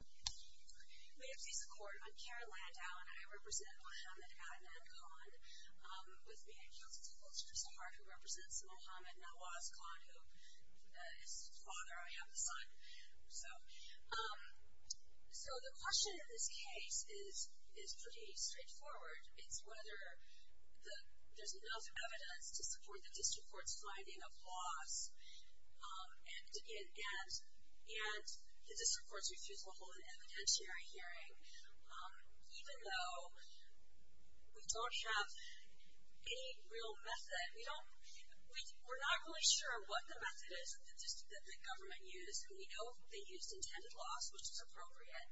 We have cease-of-court. I'm Karen Landau and I represent Mohammad Ahmed Khan, with me in counsel's office is Zahar, who represents Mohammad Nawaz Khan, who is his father. I have a son. So, the question in this case is pretty straightforward. It's whether there's enough evidence to support the district court's finding of laws. And the district courts refuse to hold an evidentiary hearing, even though we don't have any real method. We're not really sure what the method is that the government used. We know they used intended laws, which is appropriate,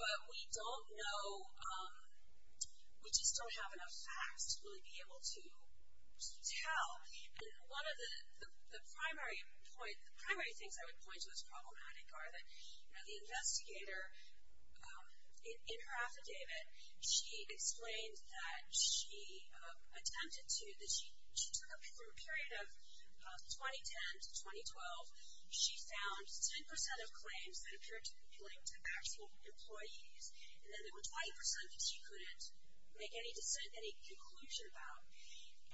but we don't know, we just don't have enough facts to really be able to tell. One of the primary things I would point to as problematic are that the investigator, in her affidavit, she explained that she attempted to, that she took a period of 2010 to 2012, she found 10% of claims that appeared to be linked to actual employees, and then there were 20% that she couldn't make any conclusion about.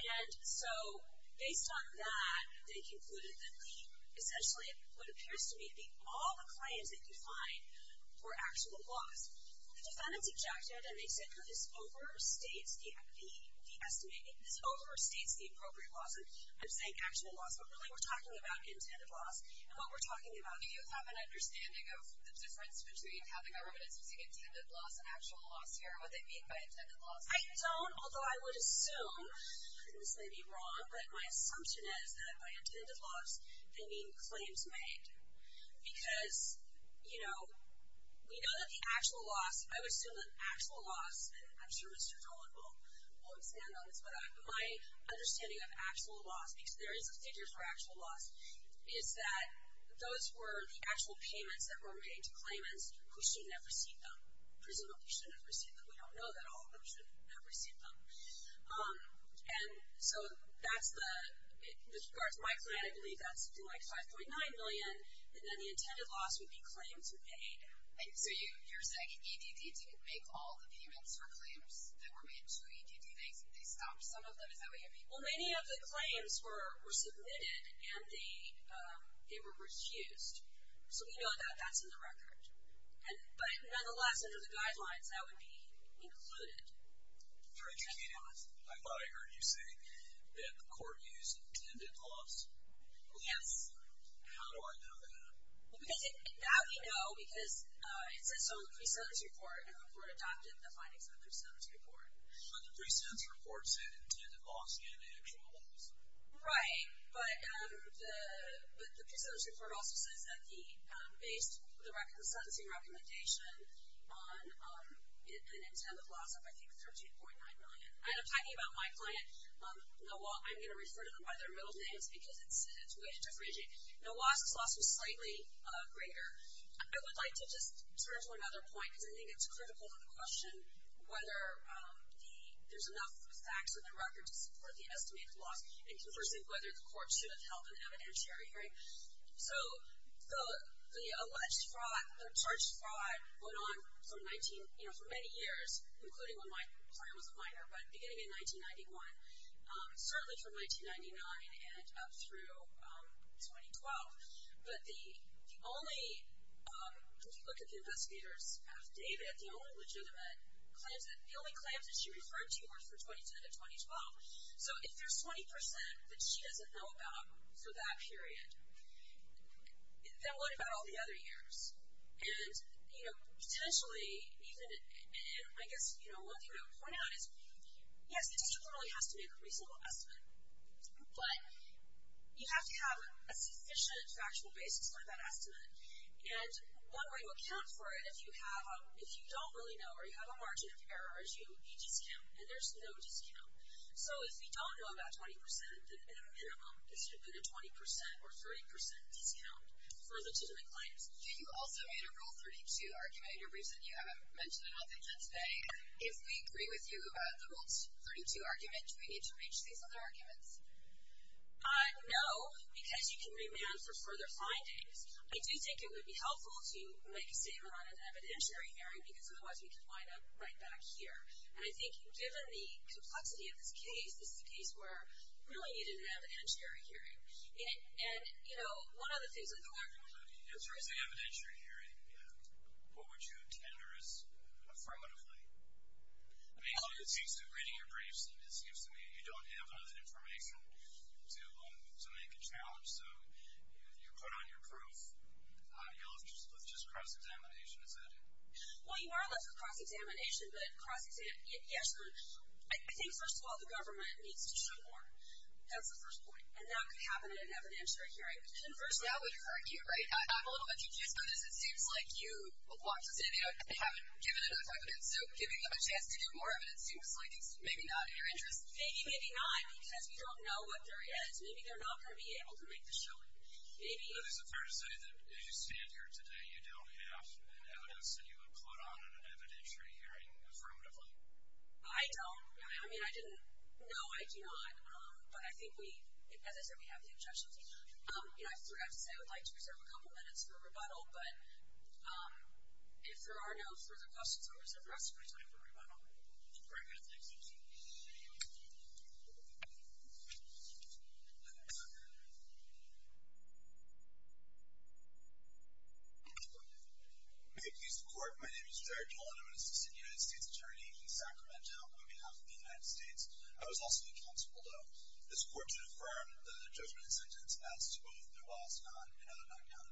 And so, based on that, they concluded that the, essentially, what appears to be all the claims that you find were actual laws. The defendants objected and they said, no, this overstates the estimate, this overstates the appropriate laws. I'm saying actual laws, but really we're talking about intended laws and what we're talking about. Do you have an understanding of the difference between how the government is using intended laws and actual laws here, what they mean by intended laws? I don't, although I would assume, and this may be wrong, but my assumption is that by intended laws, they mean claims made. Because, you know, we know that the actual laws, I would assume that actual laws, I'm sure Mr. Dolan will understand this, but my understanding of actual laws, because there is a figure for actual laws, is that those were the actual payments that were made to claimants who shouldn't have received them. Presumably shouldn't have received them. We don't know that all of them should have received them. And so, that's the, in regards to my client, I believe that's something like $5.9 million. And then the intended loss would be claims made. So, you're saying EDD didn't make all the payments or claims that were made to EDD. They stopped some of them, is that what you're saying? Well, many of the claims were submitted and they were refused. So, we know that that's in the record. But, nonetheless, under the guidelines, that would be included. Very tricky. I thought I heard you say that the court used intended loss. Yes. How do I know that? Because now we know because it says so in the presenters report. The court adopted the findings of the presenters report. But the presenters report said intended loss and actual loss. Right. But the presenters report also says that based on the sentencing recommendation, an intended loss of, I think, $13.9 million. And I'm talking about my client, Nawaz. I'm going to refer to them by their middle names because it's way too differentiating. Nawaz's loss was slightly greater. I would like to just turn to another point because I think it's critical to the question of whether there's enough facts in the record to support the estimated loss and, conversely, whether the court should have held an evidentiary hearing. So, the alleged fraud, the charged fraud, went on for many years, including when my client was a minor, but beginning in 1991, certainly from 1999 and up through 2012. But the only, if you look at the investigators of David, the only legitimate claims, the only claims that she referred to were for 2010 and 2012. So, if there's 20% that she doesn't know about for that period, then what about all the other years? And, you know, potentially even, I guess, you know, one thing I would point out is, yes, it potentially really has to be a reasonable estimate, but you have to have a sufficient factual basis for that estimate. And one way to account for it, if you have a, if you don't really know or you have a margin of error, is you need discount, and there's no discount. So, if you don't know about 20%, then at a minimum, it should have been a 20% or 30% discount for legitimate claims. You also made a Rule 32 argument. In your briefs that you haven't mentioned enough, I think that's vague. If we agree with you about the Rule 32 argument, do we need to reach these other arguments? No, because you can remand for further findings. I do think it would be helpful to make a statement on an evidentiary hearing, because otherwise we could wind up right back here. And I think given the complexity of this case, this is a case where we really needed an evidentiary hearing. And, you know, one of the things with the larger one is... In terms of evidentiary hearing, what would you intend, or is, affirmatively? I mean, it seems to me, reading your briefs, it seems to me you don't have enough information to make a challenge, so you put on your proof, you'll have just cross-examination, is that it? Well, you are left with cross-examination, but cross-examination, yes. I think, first of all, the government needs to show more. That's the first point. And that could happen in an evidentiary hearing. And first of all, with your idea, right, I'm a little bit confused by this. It seems like you walked us in, you know, and haven't given enough evidence, so giving them a chance to do more evidence seems like it's maybe not in your interest. Maybe, maybe not, because we don't know what there is. Maybe they're not going to be able to make the showing. Maybe... Is it fair to say that as you stand here today, you don't have evidence that you would put on an evidentiary hearing, affirmatively? I don't. I mean, I didn't know. No, I do not. But I think we, as I said, we have the objections. And I forgot to say, I would like to reserve a couple minutes for rebuttal, but if there are no further questions, I'll reserve the rest of my time for rebuttal. Very good. Thank you. May it please the Court. My name is Jerry Dolan. I'm an assistant United States Attorney in Sacramento on behalf of the United States. I was also the counsel below this Court to affirm the judgment and sentence as to both there was none and none can.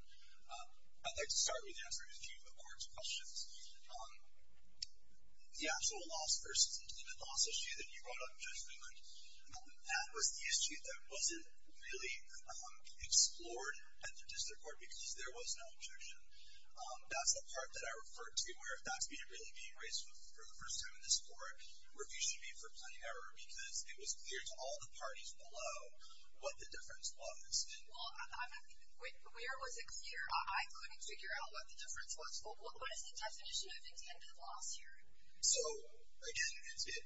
I'd like to start with answering a few of the Court's questions. The actual loss versus the limit loss issue that you brought up in judgment, that was the issue that wasn't really explored at the District Court because there was no objection. That's the part that I referred to where if that's really being raised for the first time in this Court, review should be for plenty error because it was clear to all the parties below what the difference was. Well, where was it clear? I couldn't figure out what the difference was. What is the definition of intended loss here? So, again, it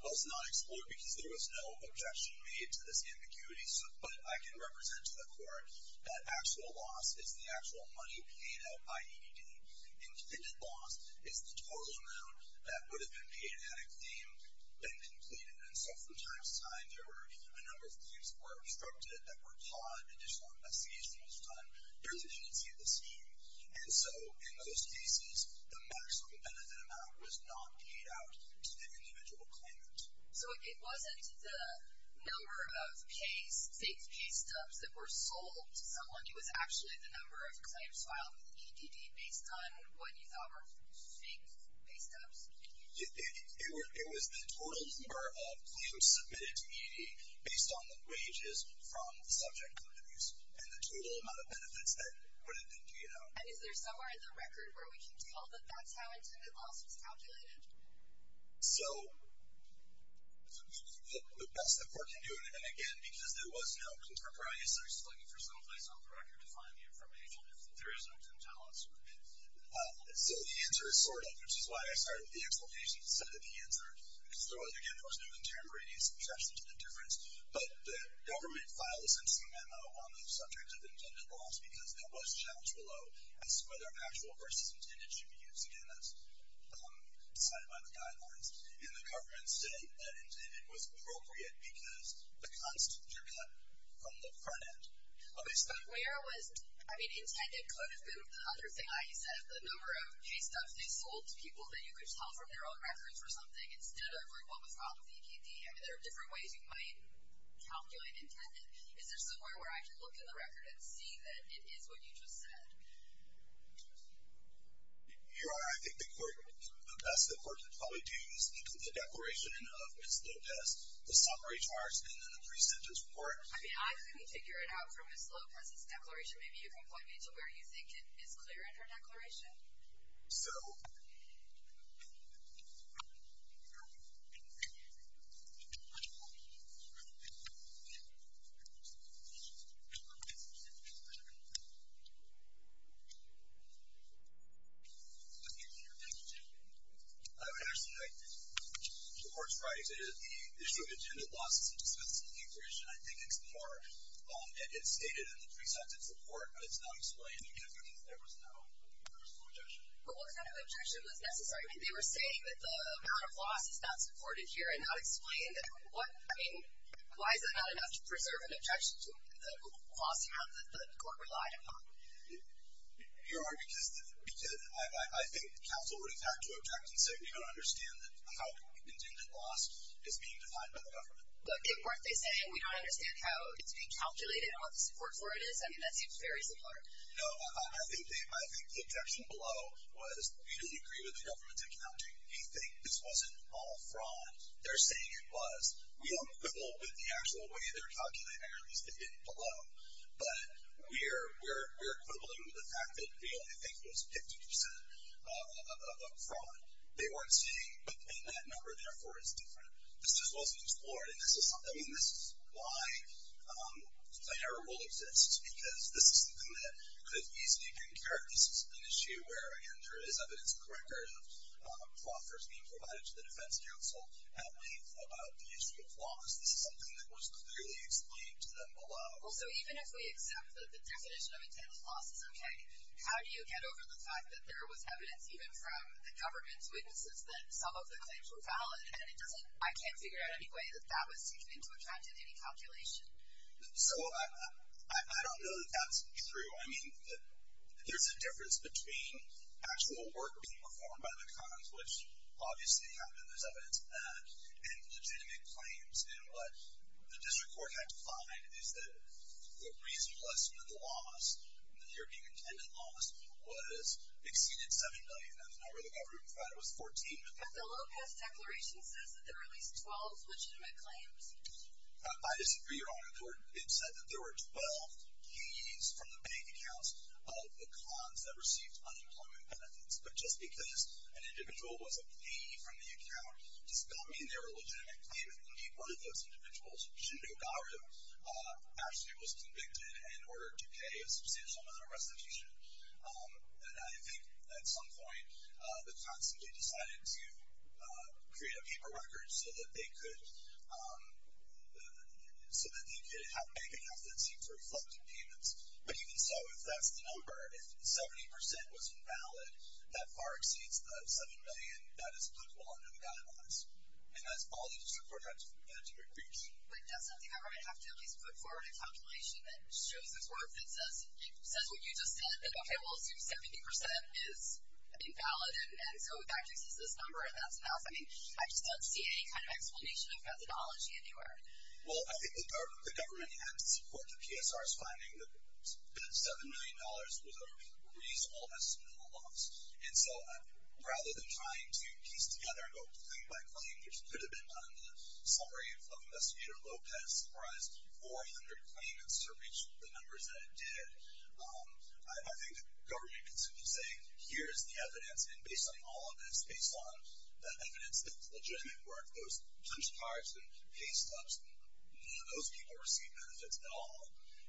was not explored because there was no objection made to this ambiguity. But I can represent to the Court that actual loss is the actual money paid out by ED. Intended loss is the total amount that would have been paid had a claim been completed. And so from time to time there were a number of claims that were obstructed that were caught and additional investigation was done. There's a tendency of the scheme. And so in those cases, the maximum benefit amount was not paid out to the individual claimant. So it wasn't the number of case, state case stubs that were sold to someone. It was actually the number of claims filed with ED based on what you thought were state case stubs. It was the total number of claims submitted to ED based on the wages from the subject companies and the total amount of benefits that would have been paid out. And is there somewhere in the record where we can tell that that's how intended loss was calculated? So the best the Court can do, and again, because there was no contemporary research, is looking for someplace on the record to find the information if there is no contemporary research. So the answer is sort of, which is why I started with the explanation, is sort of the answer. So, again, there was no contemporary research into the difference. But the government filed a sentencing memo on the subject of intended loss because there was challenge below as to whether actual versus intended should be used. Again, that's decided by the guidelines. And the government said that intended was appropriate because the constituents are cut from the front end of the explanation. Where was, I mean, intended could have been another thing. Like you said, the number of case stubs they sold to people that you could tell from their own records or something, instead of what was filed with the EKD. I mean, there are different ways you might calculate intended. Is there somewhere where I can look in the record and see that it is what you just said? Your Honor, I think the court, the best the court could probably do is include the declaration of Ms. Lopez, the summary charge, and then the pre-sentence report. I mean, I couldn't figure it out from Ms. Lopez's declaration. Maybe you can point me to where you think it is clear in her declaration. So... Ms. Lopez, did you have a question? I would actually like the court's right to the issue of intended losses and dismissal of the objection. I think it's more, it's stated in the pre-sentence report, but it's not explained because there was no objection. But what kind of objection was necessary? I mean, they were saying that the amount of loss is not supported here and not explained. I mean, why is it not enough to preserve an objection to the loss amount that the court relied upon? Your Honor, because I think counsel would attack to object and say we don't understand how intended loss is being defined by the government. But if what they say, we don't understand how it's being calculated and what the support for it is, I mean, that seems very similar. No, I think the objection below was, we don't agree with the government's accounting. We think this wasn't all fraud. They're saying it was. We don't quibble with the actual way they're calculating, or at least they did below. But we're quibbling with the fact that we only think it was 50% of fraud. They weren't saying, but then that number, therefore, is different. This just wasn't explored. I mean, this is why a error rule exists, because this is something that could easily be incurred. This is an issue where, again, there is evidence of fraud first being provided to the defense counsel about the issue of loss. This is something that was clearly explained to them below. Well, so even if we accept that the definition of intended loss is okay, how do you get over the fact that there was evidence, even from the government's witnesses, that some of the claims were valid? And it doesn't – I can't figure out any way that that was taken into account in any calculation. So I don't know that that's true. I mean, there's a difference between actual work being performed by the McConnells, which obviously happened, and there's evidence of that, and legitimate claims. And what the district court had to find is that the reasonable estimate of the loss, the European intended loss, exceeded $7 million. That was not where the government provided. It was $14 million. But the Lopez Declaration says that there are at least 12 legitimate claims. I disagree, Your Honor. The district court had said that there were 12 PEs from the bank accounts of McConnells that received unemployment benefits. But just because an individual was a PE from the account does not mean they were a legitimate claim. Indeed, one of those individuals, Jundu Garu, actually was convicted and ordered to pay a substantial amount of restitution. And I think at some point the McConnells simply decided to create a paper record so that they could have bank accounts that seemed to reflect the payments. But even so, if that's the number, if 70% was invalid, that far exceeds the $7 million that is applicable under the guidelines. And that's all the district court had to agree to. But doesn't the government have to at least put forward a calculation that shows it's worth, that says what you just said, that, okay, well, let's do 70% is invalid, and so that just is this number, and that's enough. I mean, I just don't see any kind of explanation of methodology anywhere. Well, I think the government had to support the PSR's finding that that $7 million was a reasonable estimate of a loss. And so rather than trying to piece together and go claim by claim, which could have been, under the summary of Investigator Lopez, surprised 400 claimants to reach the numbers that it did, I think the government could simply say, here's the evidence, and based on all of this, based on the evidence that's legitimate, where if those cash cards and pay stubs, none of those people received benefits at all.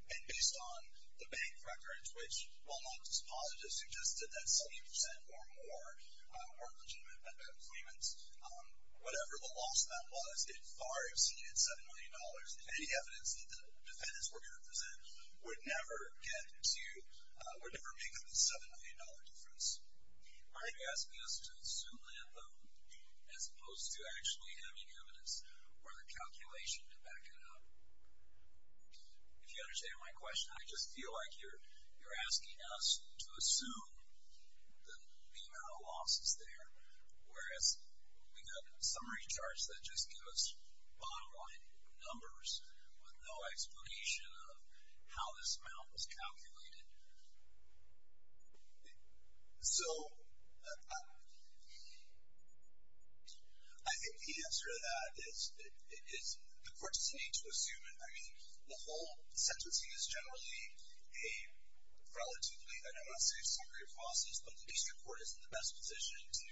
And based on the bank records, which, while not dispositive, suggested that 70% or more weren't legitimate payments, whatever the loss that was, it far exceeded $7 million. Any evidence that the defendants were going to present would never make up the $7 million difference. Are you asking us to assume the anthem as opposed to actually having evidence or the calculation to back it up? If you understand my question, I just feel like you're asking us to assume the amount of losses there, whereas we got summary charts that just give us bottom-line numbers with no explanation of how this amount was calculated. So, I think the answer to that is the court doesn't need to assume it. I mean, the whole sentencing is generally a relatively, I don't want to say a summary of losses, but at least the court is in the best position to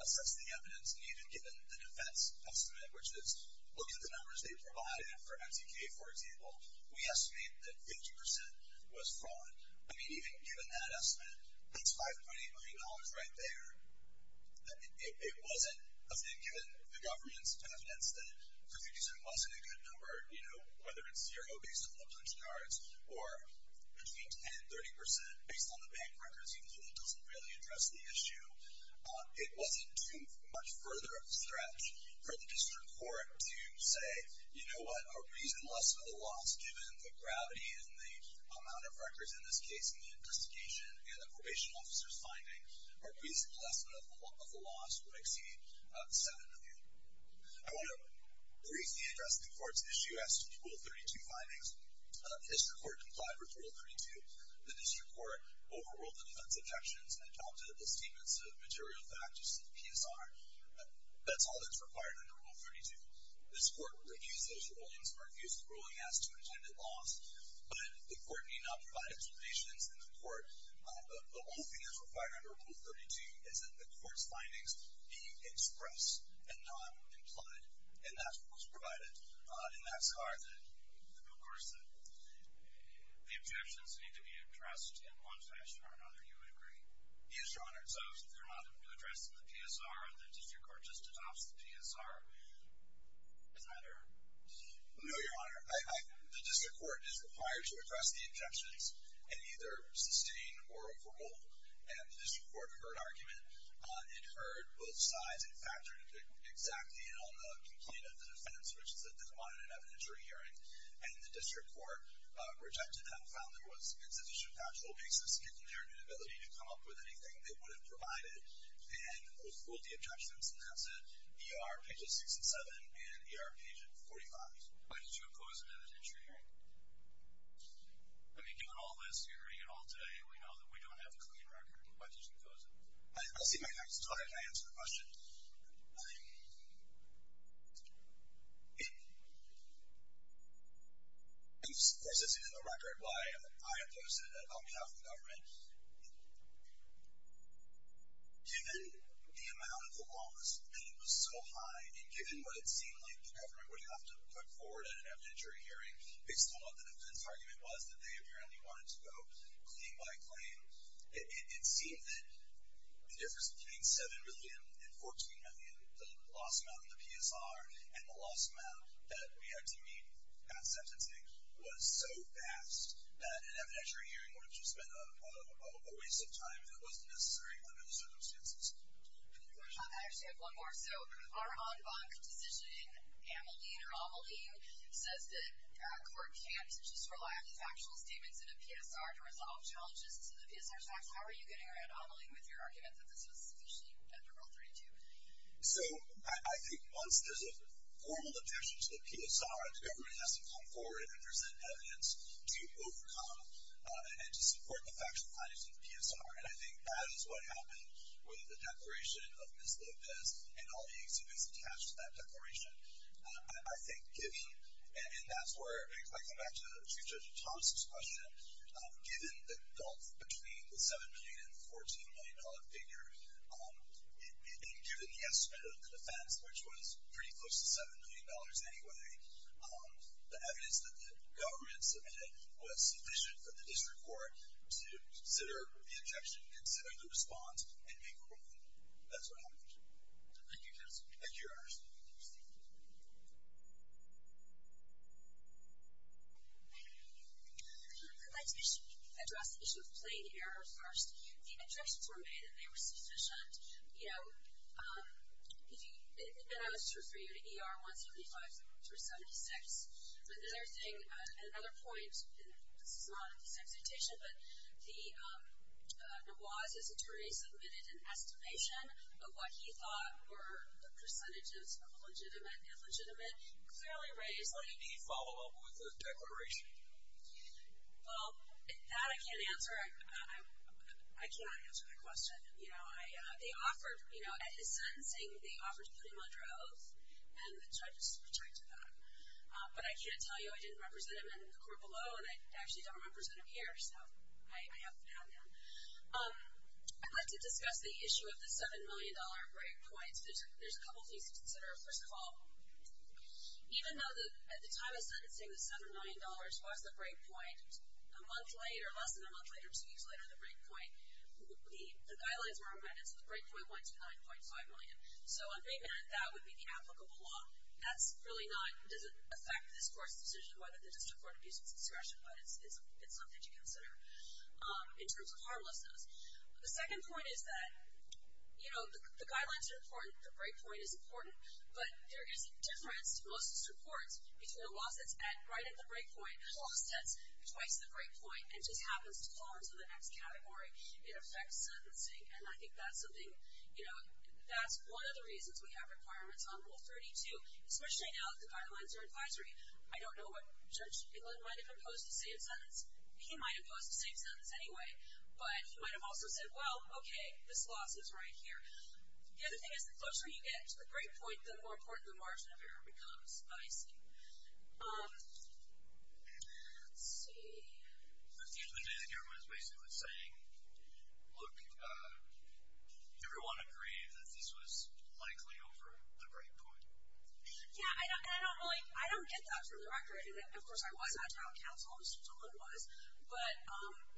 assess the evidence needed given the defense estimate, which is look at the numbers they provided for MTK, for example. We estimate that 50% was fraud. I mean, even given that estimate, that's $5.8 million right there. It wasn't, given the government's confidence that 50% wasn't a good number, whether it's zero based on the punch cards or between 10% and 30% based on the bank records, even though that doesn't really address the issue, it wasn't too much further of a stretch for the district court to say, you know what, a reasonable estimate of the loss, given the gravity and the amount of records in this case and the investigation and the probation officer's findings, a reasonable estimate of the loss would exceed $7 million. I want to briefly address the court's issue as to Rule 32 findings. The district court complied with Rule 32. The district court overruled the defense objections and adopted the statements of material facts in the PSR. That's all that's required under Rule 32. This court reviews those rulings or reviews the ruling as to intended loss, but the court may not provide explanations in the court. The only thing that's required under Rule 32 is that the court's findings be expressed and not implied, and that's what was provided. And that's hard to do. Of course, the objections need to be addressed in one fashion or another. You would agree? Yes, Your Honor. So if they're not addressed in the PSR, the district court just adopts the PSR. Does that hurt? No, Your Honor. The district court is required to address the objections and either sustain or overrule. And the district court heard argument. It heard both sides. It factored exactly in on the complaint of the defense, which is at the common and evidentiary hearing, and the district court rejected them, found there was insufficient factual basis, given their inability to come up with anything they would have provided, and overruled the objections. And that's at ER pages 67 and ER page 45. Why did you oppose an evidentiary hearing? I mean, given all this, hearing it all today, we know that we don't have a clean record. Why did you oppose it? I'll see my taxes. All right. Can I answer the question? I'm processing the record why I opposed it. I'll get off the government. Given the amount of the loss, and it was so high, and given what it seemed like the government would have to put forward at an evidentiary hearing, based on what the defense argument was, that they apparently wanted to go claim by claim, it seemed that the difference between 7 million and 14 million, the loss amount in the PSR, and the loss amount that we had to meet at sentencing, was so vast that an evidentiary hearing would have just been a waste of time that wasn't necessary under the circumstances. I actually have one more. So our en banc decision, Ameline, or Ameline, says that court can't just rely on the factual statements in a PSR to resolve challenges to the PSR tax. How are you getting around Ameline with your argument that this was sufficiently liberal 32? So I think once there's a formal objection to the PSR, the government has to come forward and present evidence to overcome and to support the factual findings of the PSR. And I think that is what happened with the declaration of Ms. Lopez and all the executives attached to that declaration. I think giving, and that's where, if I come back to Chief Judge Thompson's question, given the gulf between the 7 million and the 14 million dollar figure, and given the estimate of the defense, which was pretty close to 7 million dollars anyway, the evidence that the government submitted was sufficient for the district court to consider the objection, consider the response, and make a ruling. Thank you, Judge. Thank you, Your Honor. I'd like to address the issue of plain error first. The objections were made that they were sufficient. You know, I was referring to ER-175-76. But the other thing, another point, and this is not in this exhortation, but the Nawaz's attorney submitted an estimation of what he thought were the percentages of legitimate and illegitimate, and clearly raised that. Did he follow up with the declaration? Well, that I can't answer. I cannot answer that question. You know, they offered, you know, at his sentencing, they offered to put him under oath, and the judges rejected that. But I can't tell you I didn't represent him in the court below, and I actually don't represent him here, so I haven't found him. I'd like to discuss the issue of the 7 million dollar break points. There's a couple things to consider. First of all, even though at the time of sentencing, the 7 million dollars was the break point, a month later, less than a month later, two years later, the break point, the guidelines were amended, so the break point went to 9.5 million. So on payment, that would be the applicable law. That's really not, it doesn't affect this court's decision whether the district court abuse its discretion, but it's something to consider in terms of harmlessness. The second point is that, you know, the guidelines are important, the break point is important, but there is a difference, most reports, between a law that's at, right at the break point, plus that's twice the break point, and just happens to fall into the next category. It affects sentencing, and I think that's something, you know, that's one of the reasons we have requirements on Rule 32, especially now that the guidelines are advisory. I don't know what, Judge Inland might have imposed the same sentence, he might have imposed the same sentence anyway, but he might have also said, well, okay, this law sits right here. The other thing is, the closer you get to the break point, the more important the margin of error becomes. Oh, I see. Let's see. The thing that everyone is basically saying, look, everyone agreed that this was likely over the break point. Yeah, and I don't really, I don't get that for the record. Of course, I was on town council, and someone was, but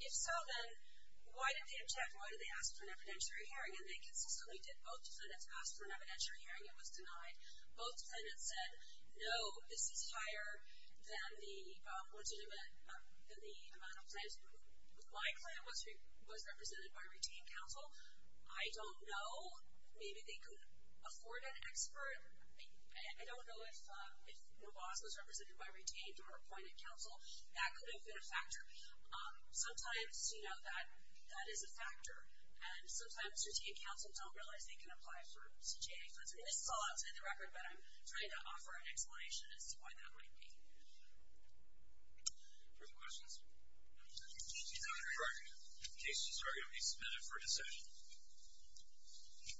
if so, then why did they object? Why did they ask for an evidentiary hearing? And they consistently did. Both defendants asked for an evidentiary hearing. It was denied. Both defendants said, no, this is higher than the amount of plans. My plan was represented by retained council. I don't know. Maybe they could afford an expert. I don't know if the boss was represented by retained or appointed council. That could have been a factor. Sometimes, you know, that is a factor, and sometimes retained councils don't realize they can apply for CJA funds. I mean, this is all outside the record, but I'm trying to offer an explanation as to why that might be. Other questions? If the cases are going to be submitted for a decision?